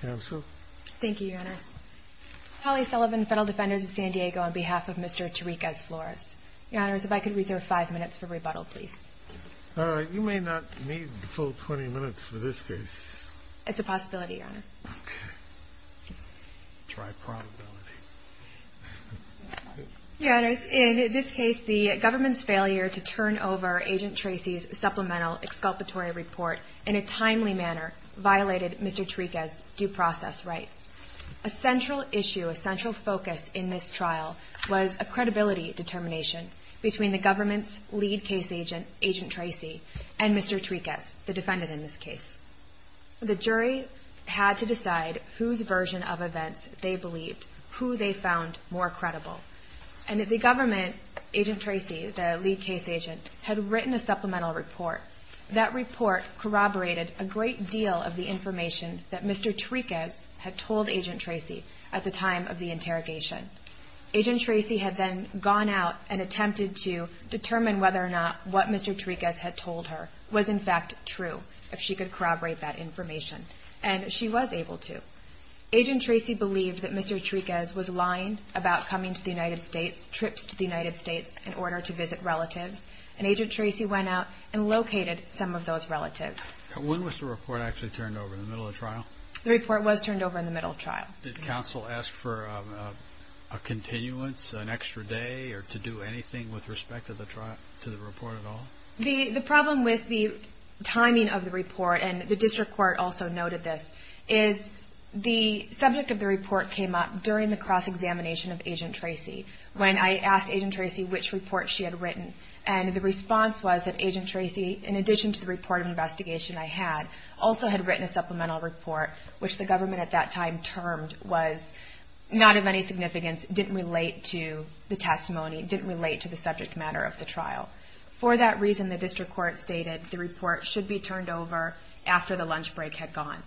Council. Thank you, Your Honors. Holly Sullivan, Federal Defenders of San Diego, on behalf of Mr. Terriquez-Flores. Your Honors, if I could reserve five minutes for rebuttal, please. You may not need the full 20 minutes for this case. It's a possibility, Your Honor. Okay. Try probability. Your Honors, in this case, the government's failure to turn over Agent Terriquez's due process rights. A central issue, a central focus in this trial, was a credibility determination between the government's lead case agent, Agent Tracy, and Mr. Terriquez, the defendant in this case. The jury had to decide whose version of events they believed, who they found more credible. And if the government, Agent Tracy, the lead case agent, had written a supplemental report, that report corroborated a great deal of the information that Mr. Terriquez had told Agent Tracy at the time of the interrogation. Agent Tracy had then gone out and attempted to determine whether or not what Mr. Terriquez had told her was, in fact, true, if she could corroborate that information. And she was able to. Agent Tracy believed that Mr. Terriquez was lying about coming to the United States, trips to the United States, in order to visit relatives. And Agent Tracy went out and located some of those relatives. When was the report actually turned over, in the middle of the trial? The report was turned over in the middle of the trial. Did counsel ask for a continuance, an extra day, or to do anything with respect to the trial, to the report at all? The problem with the timing of the report, and the district court also noted this, is the subject of the report came up during the cross-examination of Agent Tracy. When I asked Agent Tracy which report she had written, and the response was that Agent Tracy, in addition to the report of investigation I had, also had written a supplemental report, which the government at that time termed was not of any significance, didn't relate to the testimony, didn't relate to the subject matter of the trial. For that reason, the district court stated the report should be turned over after the lunch break had gone.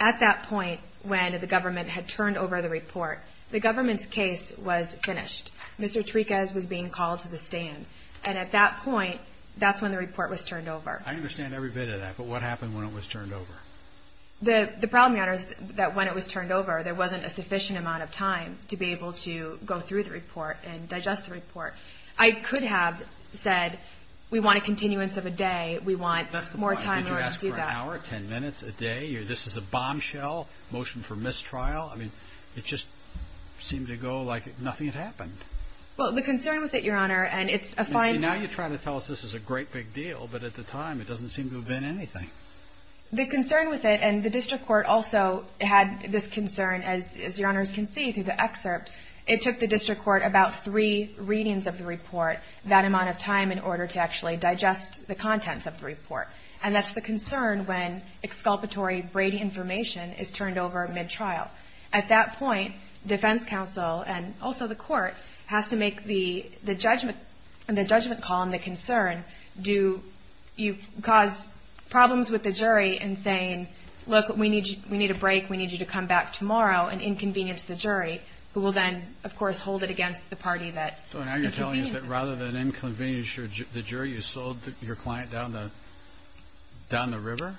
At that point, when the government had turned over the report, the government's case was finished. Mr. Triquez was being called to the stand. And at that point, that's when the report was turned over. I understand every bit of that, but what happened when it was turned over? The problem, Your Honor, is that when it was turned over, there wasn't a sufficient amount of time to be able to go through the report and digest the report. I could have said, we want a continuance of a day, we want more time in order to do that. That's the point. Did you ask for an hour, ten minutes, a day? This is a bombshell, motion for mistrial. I mean, it just seemed to go like nothing had happened. Well, the concern with it, Your Honor, and it's a fine... Now you're trying to tell us this is a great big deal, but at the time, it doesn't seem to have been anything. The concern with it, and the district court also had this concern, as Your Honors can see through the excerpt, it took the district court about three readings of the report, that amount of time in order to actually digest the contents of the report. And that's the At that point, defense counsel, and also the court, has to make the judgment call and the concern, do you cause problems with the jury in saying, look, we need a break, we need you to come back tomorrow, and inconvenience the jury, who will then, of course, hold it against the party that... So now you're telling us that rather than inconvenience the jury, you sold your client down the river?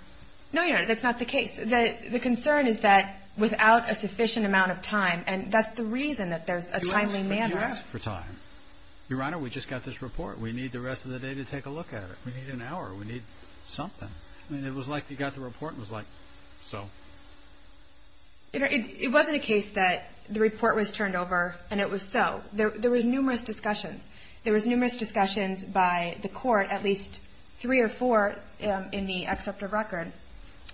No, Your Honor, that's not the case. The concern is that without a sufficient amount of time, and that's the reason that there's a timely manner... You asked for time. Your Honor, we just got this report. We need the rest of the day to take a look at it. We need an hour. We need something. I mean, it was like you got the report and it was like, so... It wasn't a case that the report was turned over and it was so. There were numerous discussions. There was numerous discussions by the court, at least three or four in the acceptor record,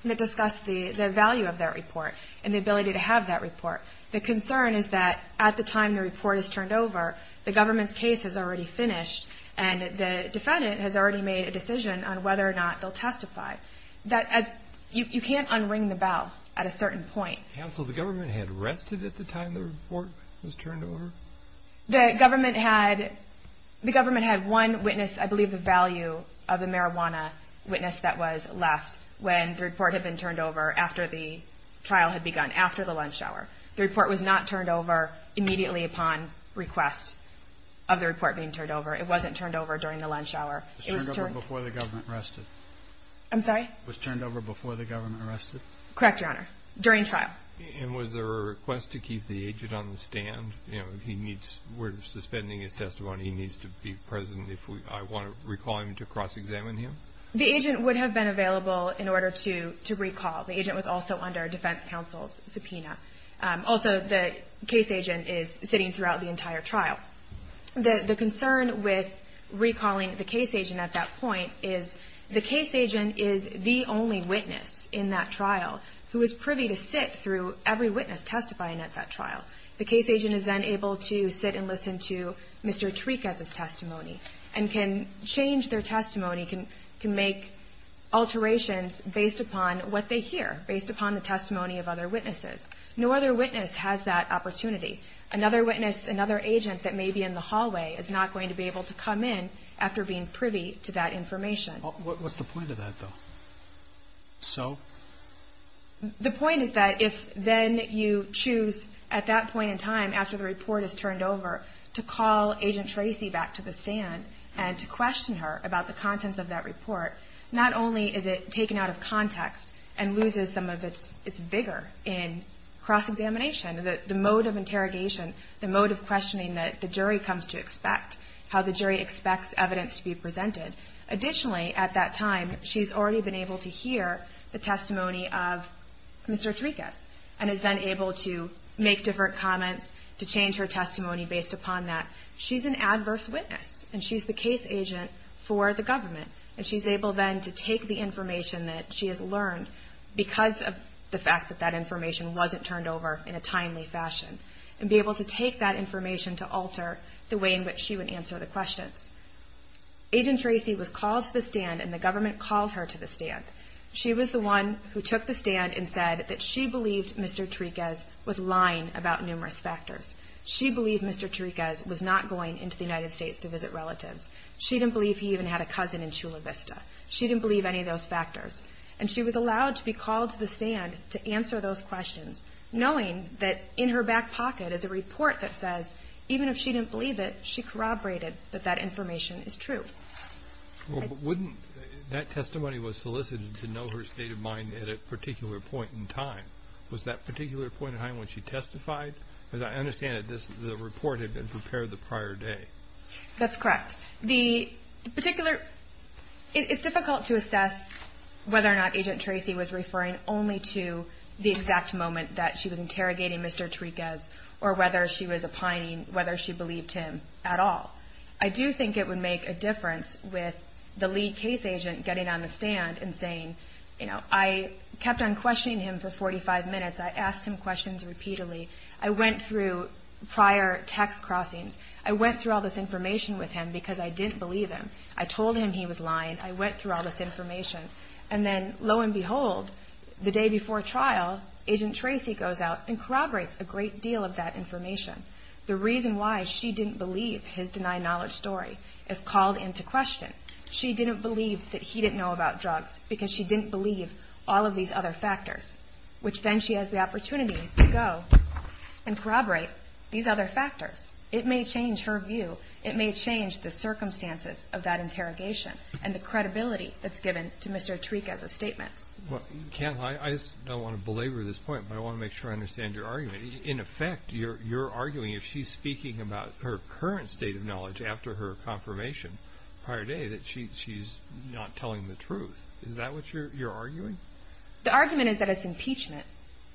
that discussed the value of that report and the ability to have that report. The concern is that at the time the report is turned over, the government's case is already finished and the defendant has already made a decision on whether or not they'll testify. You can't unring the bell at a certain point. Counsel, the government had rested at the time the report was turned over? The government had one witness, I believe the value of the marijuana witness that was left when the report had been turned over after the trial had begun, after the lunch hour. The report was not turned over immediately upon request of the report being turned over. It wasn't turned over during the lunch hour. It was turned over before the government rested? I'm sorry? It was turned over before the government rested? Correct, Your Honor. During trial. And was there a request to keep the agent on the stand? You know, he needs, we're suspending his testimony, he needs to be present if I want to recall him to cross-examine him? The agent would have been available in order to recall. The agent was also under a defense counsel's subpoena. Also, the case agent is sitting throughout the entire trial. The concern with recalling the case agent at that point is the case agent is the only witness in that trial. The case agent is then able to sit and listen to Mr. Trikas' testimony and can change their testimony, can make alterations based upon what they hear, based upon the testimony of other witnesses. No other witness has that opportunity. Another witness, another agent that may be in the hallway is not going to be able to come in after being privy to that information. What's the point of that, though? So? The point is that if then you choose, at that point in time, after the report is turned over, to call Agent Tracy back to the stand and to question her about the contents of that report, not only is it taken out of context and loses some of its vigor in cross-examination, the mode of interrogation, the mode of questioning that the jury comes to expect, how the jury expects evidence to be presented. Additionally, at that time, she's already been able to hear the testimony of Mr. Trikas, and is then able to make different comments, to change her testimony based upon that. She's an adverse witness, and she's the case agent for the government, and she's able then to take the information that she has learned because of the fact that that information wasn't turned over in a timely fashion, and be able to take that information to alter the way in which she would answer the questions. Agent Tracy was called to the stand, and the government called her to the stand. She was the one who took the stand and said that she believed Mr. Trikas was lying about numerous factors. She believed Mr. Trikas was not going into the United States to visit relatives. She didn't believe he even had a cousin in Chula Vista. She didn't believe any of those factors. And she was allowed to be called to the stand to answer those questions, knowing that in her back pocket is a report that says, even if she didn't believe it, she corroborated that that information is true. Well, but wouldn't, that testimony was solicited to know her state of mind at a particular point in time. Was that particular point in time when she testified? Because I understand that this, the report had been prepared the prior day. That's correct. The particular, it's difficult to assess whether or not Agent Tracy was referring only to the exact moment that she was interrogating Mr. Trikas, or whether she was opining, whether she believed him at all. I do think it would make a difference with the lead case agent getting on the stand and saying, you know, I kept on questioning him for 45 minutes. I asked him questions repeatedly. I went through prior text crossings. I went through all this information with him because I didn't believe him. I told him he was lying. I went through all this information. And then lo and behold, the day before trial, Agent Tracy goes out and corroborates a great deal of that information. The reason why she didn't believe his denied knowledge story is called into question. She didn't believe that he didn't know about drugs because she didn't believe all of these other factors, which then she has the opportunity to go and corroborate these other factors. It may change her view. It may change the circumstances of that interrogation I don't want to belabor this point, but I want to make sure I understand your argument. In effect, you're arguing if she's speaking about her current state of knowledge after her confirmation prior day, that she's not telling the truth. Is that what you're arguing? The argument is that it's impeachment.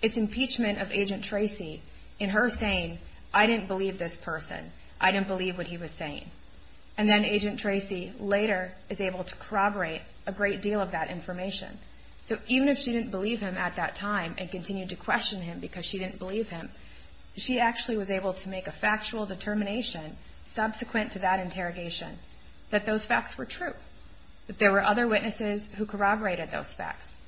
It's impeachment of Agent Tracy in her saying, I didn't believe this person. I didn't believe what he was saying. And then Agent Tracy later is able to corroborate a great deal of that information. So even if she didn't believe him at that time and continued to question him because she didn't believe him, she actually was able to make a factual determination subsequent to that interrogation that those facts were true, that there were other witnesses who corroborated those facts.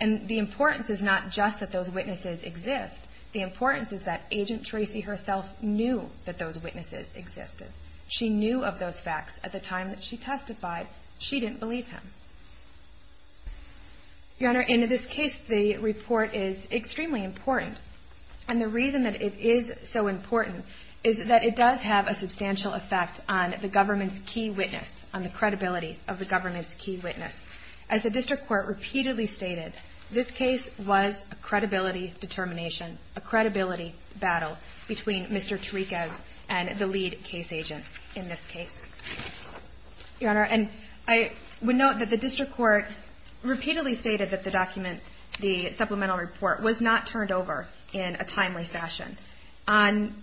And the importance is not just that those witnesses exist. The importance is that Agent Tracy herself knew that those witnesses existed. She knew of those facts at the time that she testified. She didn't believe him. Your Honor, in this case, the report is extremely important. And the reason that it is so important is that it does have a substantial effect on the government's key witness, on the credibility of the government's key witness. As the District Court repeatedly stated, this case was a credibility determination, a credibility battle between Mr. Tarikas and the lead case agent in this case. Your Honor, and I would note that the District Court repeatedly stated that the document, the supplemental report, was not turned over in a timely fashion. On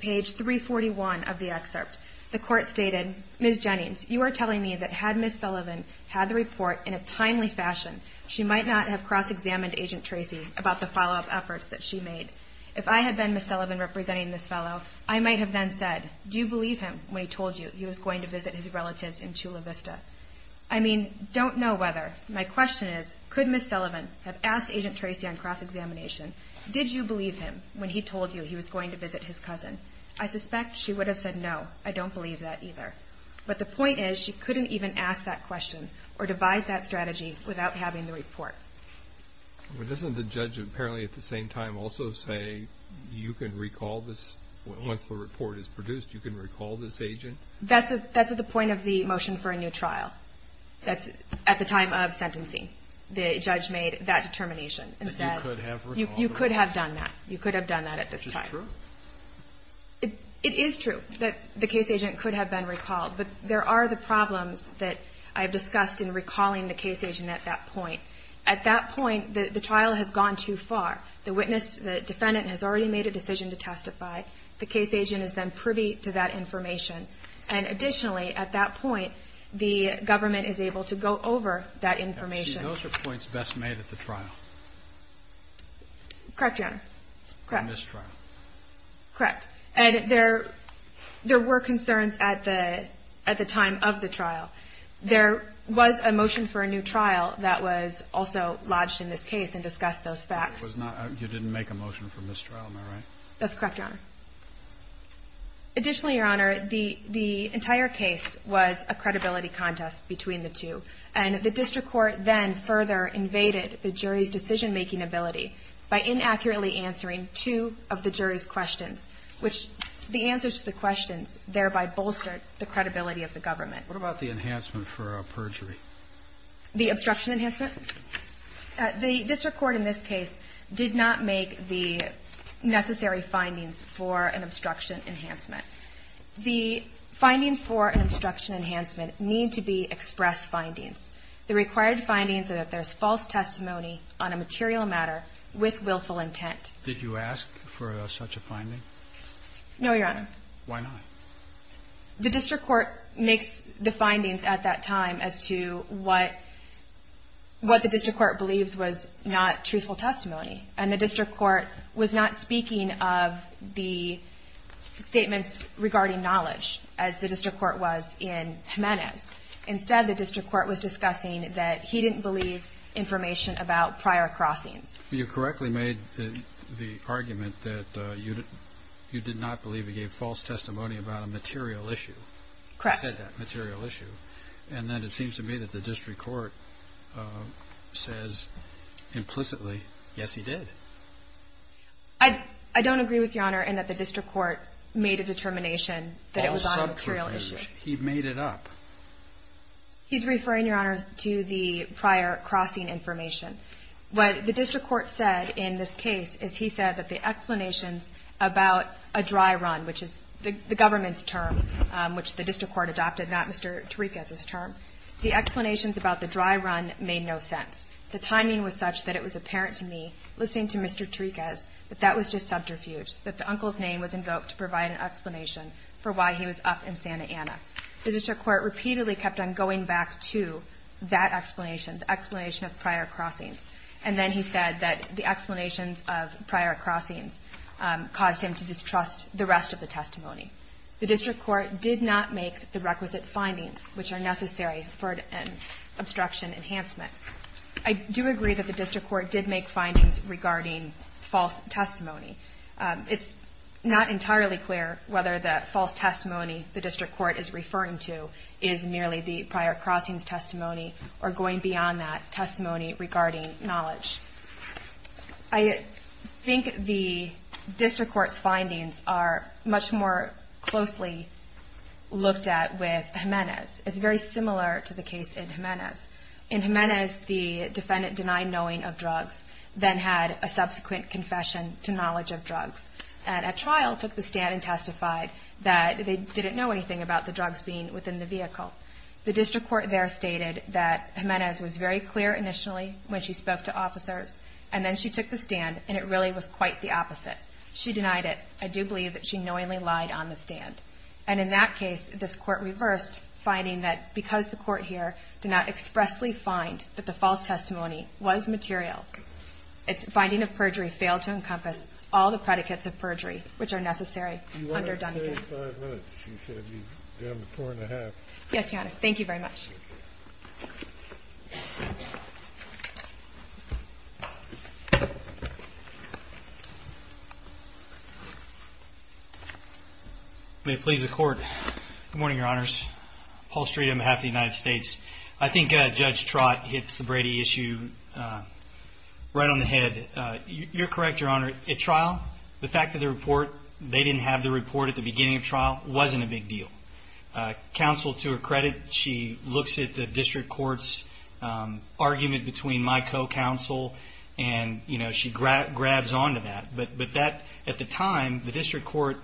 page 341 of the excerpt, the Court stated, Ms. Jennings, you are telling me that had Ms. Sullivan had the report in a timely fashion, she might not have cross-examined Agent Tracy about the follow-up efforts that she made. If I had been Ms. Sullivan representing this fellow, I might have then said, do you believe him when he told you he was going to visit his relatives in Chula Vista? I mean, don't know whether. My question is, could Ms. Sullivan have asked Agent Tracy on cross-examination, did you believe him when he told you he was going to visit his cousin? I suspect she would have said no. I don't believe that either. But the point is, she couldn't even ask that question or devise that strategy without having the report. But doesn't the judge apparently at the same time also say, you can recall this, once the report is produced, you can recall this agent? That's at the point of the motion for a new trial. That's at the time of sentencing. The judge made that determination, and that you could have done that. You could have done that at this time. Which is true. It is true that the case agent could have been recalled, but there are the problems that I have discussed in recalling the case agent at that point. At that point, the trial has gone too far. The witness, the defendant, has already made a decision to testify. The case agent is then privy to that information. And additionally, at that point, the government is able to go over that information. Now, see, those are points best made at the trial. Correct, Your Honor. Correct. The mistrial. Correct. And there were concerns at the time of the trial. There was a motion for a new trial that was also lodged in this case and discussed those facts. You didn't make a motion for mistrial, am I right? That's correct, Your Honor. Additionally, Your Honor, the entire case was a credibility contest between the two. And the district court then further invaded the jury's decision making ability by inaccurately answering two of the jury's questions, which the answers to the questions thereby bolstered the credibility of the government. What about the enhancement for perjury? The obstruction enhancement? The district court in this case did not make the necessary findings for an obstruction enhancement. The findings for an obstruction enhancement need to be expressed findings. The required findings are that there's false testimony on a material matter with willful intent. Did you ask for such a finding? No, Your Honor. Why not? The district court makes the findings at that time as to what the district court believes was not truthful testimony. And the district court was not speaking of the statements regarding knowledge, as the district court was in Jimenez. Instead, the district court was discussing that he didn't believe information about prior crossings. You correctly made the argument that you did not believe he gave false testimony about a material issue. Correct. He said that, material issue. And then it seems to me that the district court says implicitly, yes, he did. I don't agree with Your Honor in that the district court made a determination that it was on a material issue. He made it up. He's referring, Your Honor, to the prior crossing information. What the district court said in this case is he said that the explanations about a dry run, which is the government's term, which the district court adopted, not Mr. Tarikas' term, the explanations about the dry run made no sense. The timing was such that it was apparent to me, listening to Mr. Tarikas, that that was just subterfuge, that the uncle's name was invoked to provide an explanation for why he was up in Santa Ana. The district court repeatedly kept on going back to that explanation, the explanation of prior crossings. And then he said that the explanations of prior crossings caused him to distrust the rest of the testimony. The district court did not make the requisite findings, which are necessary for an obstruction enhancement. I do agree that the district court did make findings regarding false testimony. It's not entirely clear whether the false testimony the district court is referring to is merely the prior crossings testimony or going beyond that testimony regarding knowledge. I think the district court's findings are much more closely looked at with Jimenez. It's very similar to the case in Jimenez. In Jimenez, the defendant denied knowing of the stand and testified that they didn't know anything about the drugs being within the vehicle. The district court there stated that Jimenez was very clear initially when she spoke to officers, and then she took the stand, and it really was quite the opposite. She denied it. I do believe that she knowingly lied on the stand. And in that case, this court reversed, finding that because the court here did not expressly find that the false testimony was material, its finding of perjury failed to encompass all the predicates of the defense. JUDGE GREENBAUM You wanted to say five minutes. You said you'd be done with 4 1⁄2. MS. HAUSMAN Yes, Your Honor. Thank you very much. JUDGE BREWER May it please the Court. Good morning, Your Honors. Paul Street on behalf of the United States. I think Judge Trott hits the Brady issue right on the head. You're correct, Your Honor. At trial, the fact that the report they didn't have the report at the beginning of trial wasn't a big deal. Counsel, to her credit, she looks at the district court's argument between my co-counsel and, you know, she grabs onto that. But that, at the time, the district court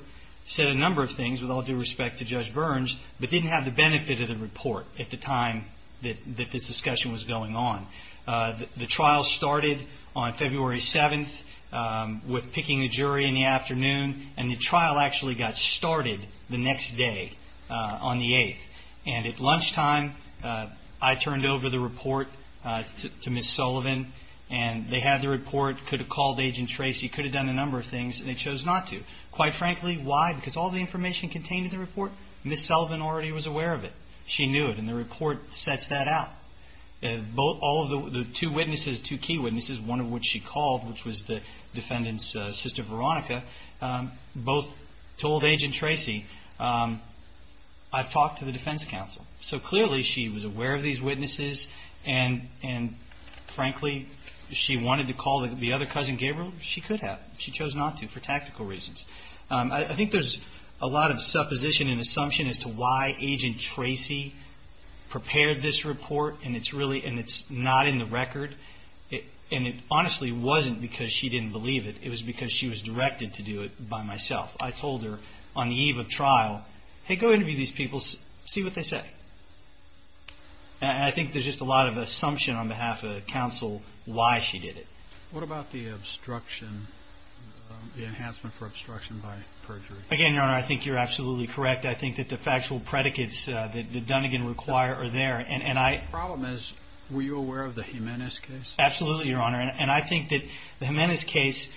said a number of things with all due respect to Judge Burns, but didn't have the benefit of the report at the time that this discussion was going on. The trial started on February 7th with picking a jury in the afternoon, and the trial actually got started the next day on the 8th. And at lunchtime, I turned over the report to Ms. Sullivan, and they had the report, could have called Agent Tracy, could have done a number of things, and they chose not to. Quite frankly, why? Because all the information contained in the report, Ms. Sullivan already was aware of it. She knew it, and the report sets that out. All of the two witnesses, two key witnesses, one of which she called, which was the defendant's sister, Veronica, both told Agent Tracy, I've talked to the defense counsel. So clearly, she was aware of these witnesses, and frankly, she wanted to call the other cousin, Gabriel, she could have. She chose not to for tactical reasons. I think there's a lot of supposition and assumption as to why Agent Tracy prepared this report, and it's not in the record, and it honestly wasn't because she didn't believe it. It was because she was directed to do it by myself. I told her on the eve of trial, hey, go interview these people, see what they say. And I think there's just a lot of assumption on behalf of counsel why she did it. What about the obstruction, the enhancement for obstruction by perjury? Again, Your Honor, I think you're absolutely correct. I think that the factual predicates that Dunnegan require are there. The problem is, were you aware of the Jimenez case? Absolutely, Your Honor. And I think that the Jimenez case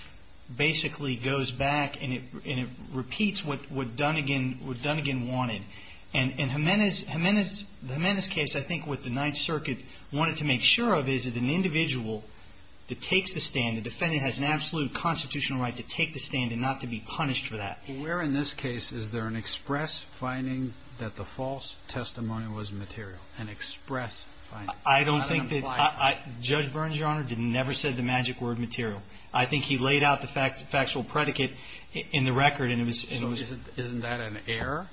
basically goes back and it repeats what Dunnegan wanted. And the Jimenez case, I think, with the Ninth Circuit, wanted to make sure of is that an individual that takes the stand, the defendant has an absolute constitutional right to take the stand and not to be punished for that. Were in this case, is there an express finding that the false testimony was material, an express finding? I don't think that, Judge Burns, Your Honor, never said the magic word material. I think he laid out the factual predicate in the record and it was... So isn't that an error?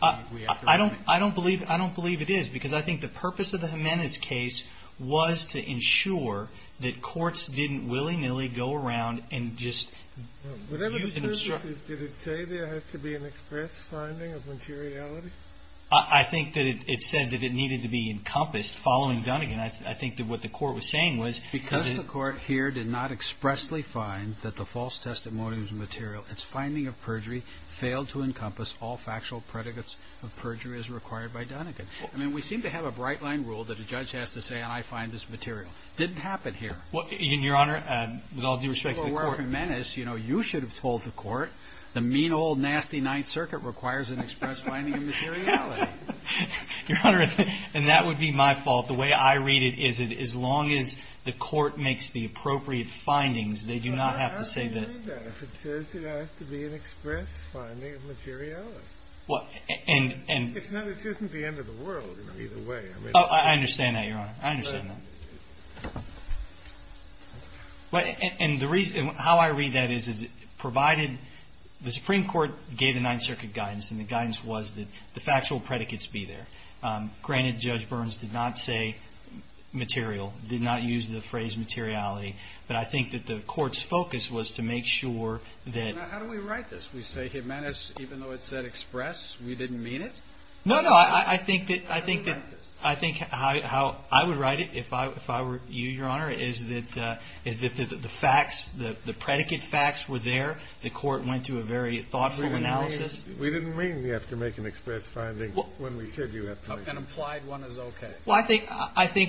I don't believe it is, because I think the purpose of the Jimenez case was to ensure that courts didn't willy-nilly go around and just... Did it say there has to be an express finding of materiality? I think that it said that it needed to be encompassed following Dunnegan. I think that what the court was saying was... Because the court here did not expressly find that the false testimony was material, its finding of perjury failed to encompass all factual predicates of perjury as required by Dunnegan. I mean, we seem to have a bright line rule that a judge has to say, and I find this material. It didn't happen here. Well, Your Honor, with all due respect to the court... You should have told the court, the mean old nasty Ninth Circuit requires an express finding of materiality. Your Honor, and that would be my fault. The way I read it is, as long as the court makes the appropriate findings, they do not have to say that... But how do you know that if it says there has to be an express finding of materiality? It isn't the end of the world either way. I understand that, Your Honor. I understand that. And the reason, how I read that is, provided the Supreme Court gave the Ninth Circuit guidance and the guidance was that the factual predicates be there. Granted, Judge Burns did not say material, did not use the phrase materiality, but I think that the court's focus was to make sure that... Now, how do we write this? We say, Jimenez, even though it said express, we didn't mean it? No, no. I think that how I would write it, if I were you, Your Honor, is that the facts, the predicate facts were there. The court went through a very thoughtful analysis. We didn't mean you have to make an express finding when we said you have to make... An implied one is okay. Well, I think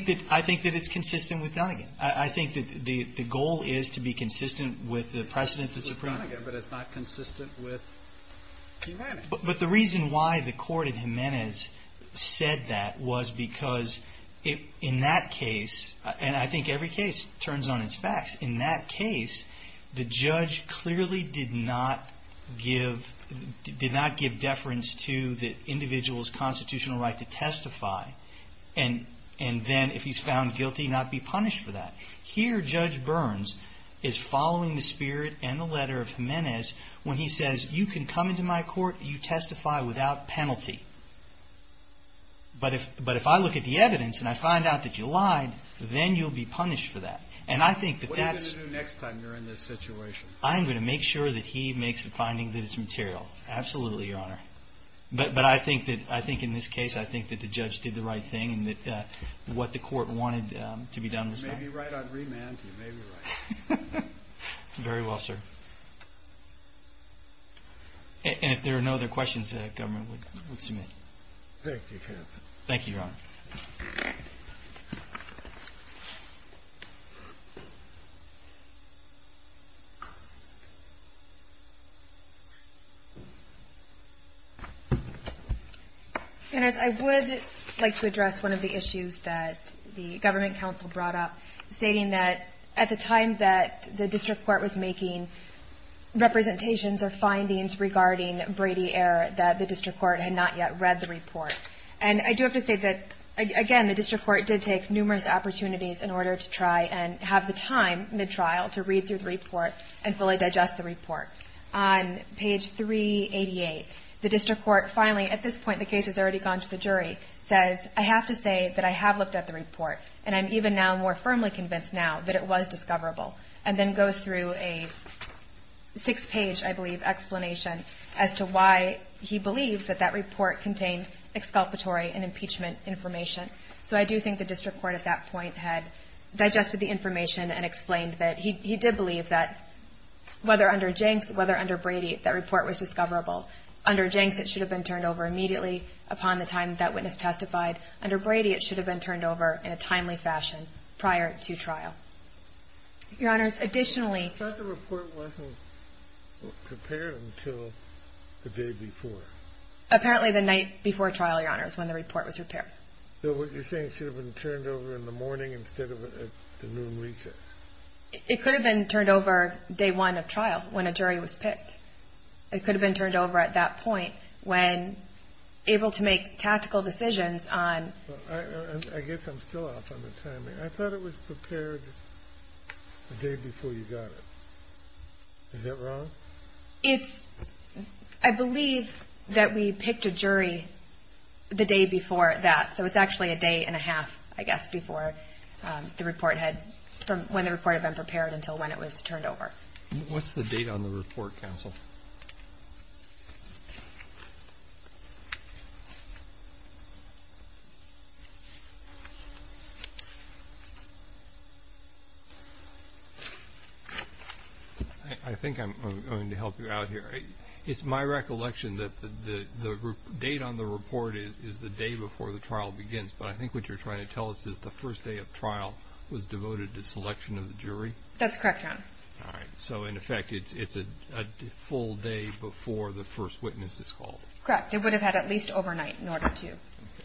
that it's consistent with Dunnegan. I think that the goal is to be consistent with the precedent that's appropriate. With Dunnegan, but it's not consistent with Jimenez. The reason why the court in Jimenez said that was because in that case, and I think every case turns on its facts, in that case, the judge clearly did not give deference to the individual's constitutional right to testify. Then, if he's found guilty, not be punished for that. Here, Judge Burns is following the spirit and the letter of Jimenez when he says, you can come into my court, you testify without penalty. But if I look at the evidence and I find out that you lied, then you'll be punished for that. What are you going to do next time you're in this situation? I'm going to make sure that he makes a finding that is material. Absolutely, Your Honor. But I think in this case, I think that the judge did the right thing and that what the court wanted to be done was done. You may be right on remand. You may be right. Very well, sir. And if there are no other questions, the government would submit. Thank you, counsel. Thank you, Your Honor. I would like to address one of the issues that the government counsel brought up, stating that at the time that the district court was making representations or findings regarding Brady error, that the district court had not yet read the report. And I do have to say that, again, the district court did take numerous opportunities in order to try and have the time mid-trial to read through the report and fully digest the report. On page 388, the district court finally, at this point, the case has already gone to the jury, says, I have to say that I have looked at the report. And I'm even now more firmly convinced now that it was discoverable, and then goes through a six-page, I believe, explanation as to why he believes that that report contained exculpatory and impeachment information. So I do think the district court at that point had digested the information and explained that he did believe that whether under Jenks, whether under Brady, that report was discoverable. Under Jenks, it should have been turned over immediately upon the time that witness testified. Under Brady, it should have been turned over in a timely fashion prior to trial. Your Honors, additionally... But the report wasn't prepared until the day before. Apparently, the night before trial, Your Honors, when the report was prepared. So what you're saying, it should have been turned over in the morning instead of at the noon recess. It could have been turned over day one of trial, when a jury was picked. It could have been turned over at that point, when able to make tactical decisions I guess I'm still off on the timing. I thought it was prepared the day before you got it. Is that wrong? It's... I believe that we picked a jury the day before that. So it's actually a day and a half, I guess, before the report had... from when the report had been prepared until when it was turned over. What's the date on the report, counsel? I think I'm going to help you out here. It's my recollection that the date on the report is the day before the trial begins. But I think what you're trying to tell us is the first day of trial was devoted to selection of the jury? That's correct, Your Honor. All right. So in effect, it's a full day before the first witness is called. Correct. It would have had at least overnight in order to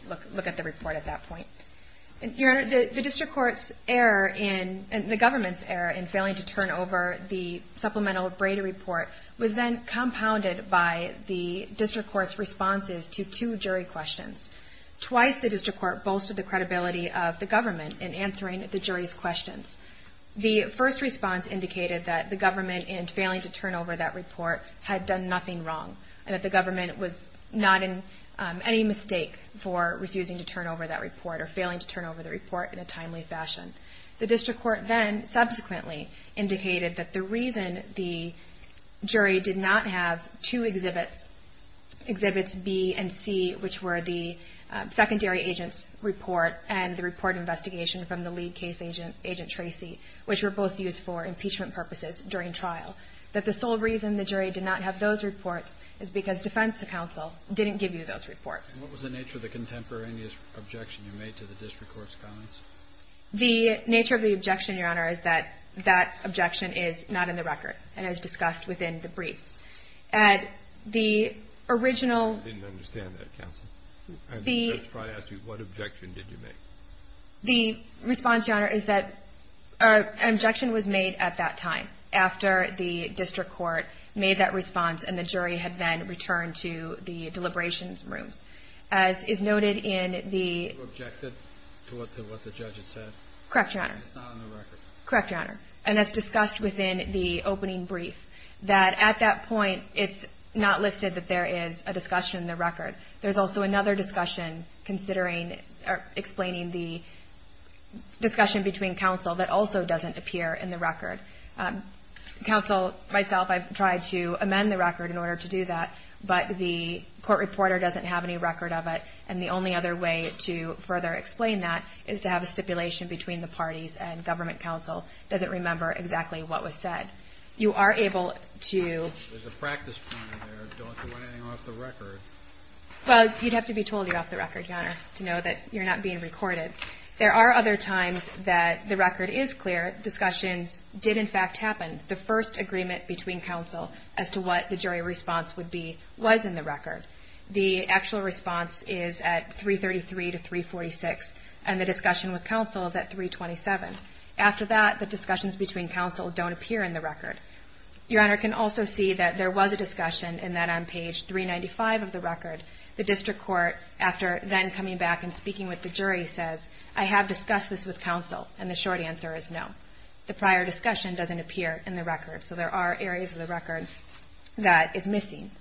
look at that. Look at the report at that point. Your Honor, the district court's error in... the government's error in failing to turn over the supplemental Brady report was then compounded by the district court's responses to two jury questions. Twice the district court boasted the credibility of the government in answering the jury's questions. The first response indicated that the government in failing to turn over that report had done nothing wrong and that the government was not in any mistake for refusing to turn over that report or failing to turn over the report in a timely fashion. The district court then subsequently indicated that the reason the jury did not have two exhibits, Exhibits B and C, which were the secondary agent's report and the report investigation from the lead case agent, Agent Tracy, which were both used for impeachment purposes during trial, that the sole reason the jury did not have those reports is because defense counsel didn't give you those reports. What was the nature of the contemporaneous objection you made to the district court's comments? The nature of the objection, Your Honor, is that that objection is not in the record and is discussed within the briefs. At the original... I didn't understand that, counsel. The... I'm just trying to ask you, what objection did you make? The response, Your Honor, is that an objection was made at that time after the district court made that response and the jury had then returned to the deliberations rooms. As is noted in the... You objected to what the judge had said? Correct, Your Honor. And it's not in the record? Correct, Your Honor. And that's discussed within the opening brief. That at that point, it's not listed that there is a discussion in the record. There's also another discussion, explaining the discussion between counsel that also doesn't appear in the record. Counsel, myself, I've tried to amend the record in order to do that, but the court reporter doesn't have any record of it, and the only other way to further explain that is to have a stipulation between the parties and government counsel doesn't remember exactly what was said. You are able to... There's a practice point there. Don't do anything off the record. Well, you'd have to be told you're off the record, Your Honor, to know that you're not being recorded. There are other times that the record is clear. Discussions did, in fact, happen. The first agreement between counsel as to what the jury response would be was in the record. The actual response is at 333 to 346, and the discussion with counsel is at 327. After that, the discussions between counsel don't appear in the record. Your Honor can also see that there was a discussion and that on page 395 of the record, the district court, after then coming back and speaking with the jury, says, I have discussed this with counsel, and the short answer is no. The prior discussion doesn't appear in the record, so there are areas of the record that is missing.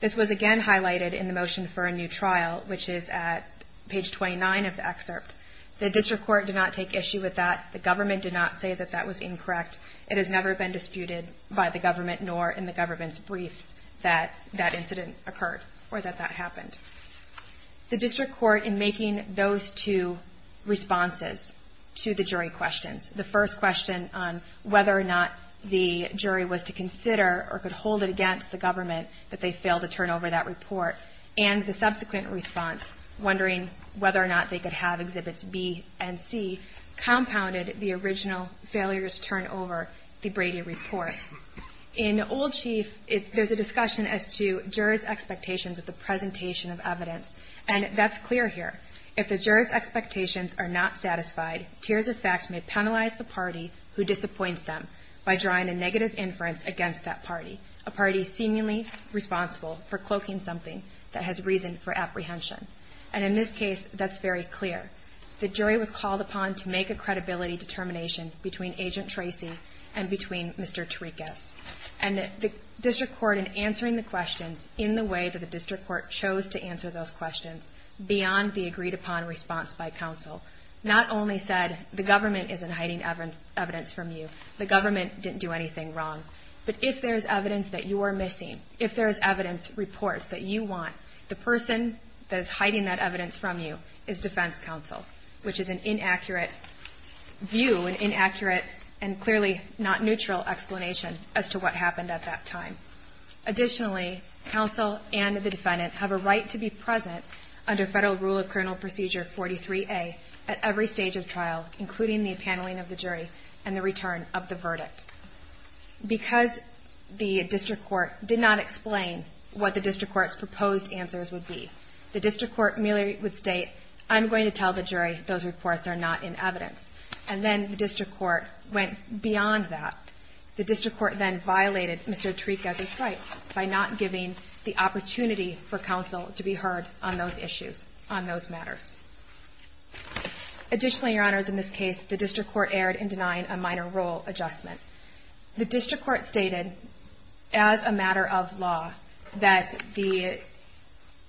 This was again highlighted in the motion for a new trial, which is at page 29 of the excerpt. The district court did not take issue with that. It has never been disputed by the government nor in the government's briefs that that incident occurred or that that happened. The district court, in making those two responses to the jury questions, the first question on whether or not the jury was to consider or could hold it against the government that they failed to turn over that report, and the subsequent response, wondering whether or not they could have Exhibits B and C, compounded the original failure to turn over the Brady Report. In Old Chief, there's a discussion as to jurors' expectations of the presentation of evidence, and that's clear here. If the jurors' expectations are not satisfied, tears of fact may penalize the party who disappoints them by drawing a negative inference against that party, a party seemingly responsible for cloaking something that has reason for apprehension. And in this case, that's very clear. The jury was called upon to make a credibility determination between Agent Tracy and between Mr. Tarikas. And the district court, in answering the questions in the way that the district court chose to answer those questions, beyond the agreed-upon response by counsel, not only said, the government isn't hiding evidence from you, the government didn't do anything wrong, but if there's evidence that you are missing, if there's evidence reports that you want, the person that is hiding that evidence from you is defense counsel, which is an inaccurate view, an inaccurate and clearly not neutral explanation as to what happened at that time. Additionally, counsel and the defendant have a right to be present under Federal Rule of Criminal Procedure 43A at every stage of trial, including the appaneling of the jury and the return of the verdict. Because the district court did not explain what the district court's proposed answers would be, the district court merely would state, I'm going to tell the jury those reports are not in evidence. And then the district court went beyond that. The district court then violated Mr. Tarikas' rights by not giving the opportunity for counsel to be heard on those issues, on those matters. Additionally, Your Honors, in this case, the district court erred in denying a minor rule adjustment. The district court stated, as a matter of law, that the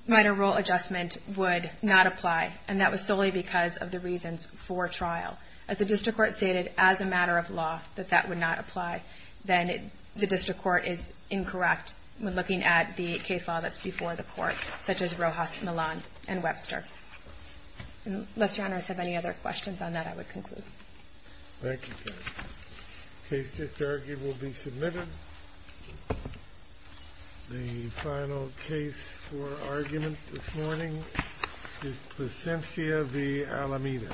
minor rule adjustment would not apply, and that was solely because of the reasons for trial. As the district court stated, as a matter of law, that that would not apply, then the district court is incorrect when looking at the case law that's before the court, such as Rojas, Millon, and Webster. Unless Your Honors have any other questions on that, I would conclude. Thank you. The case just argued will be submitted. The final case for argument this morning is Plasencia v. Alameda. Thank you.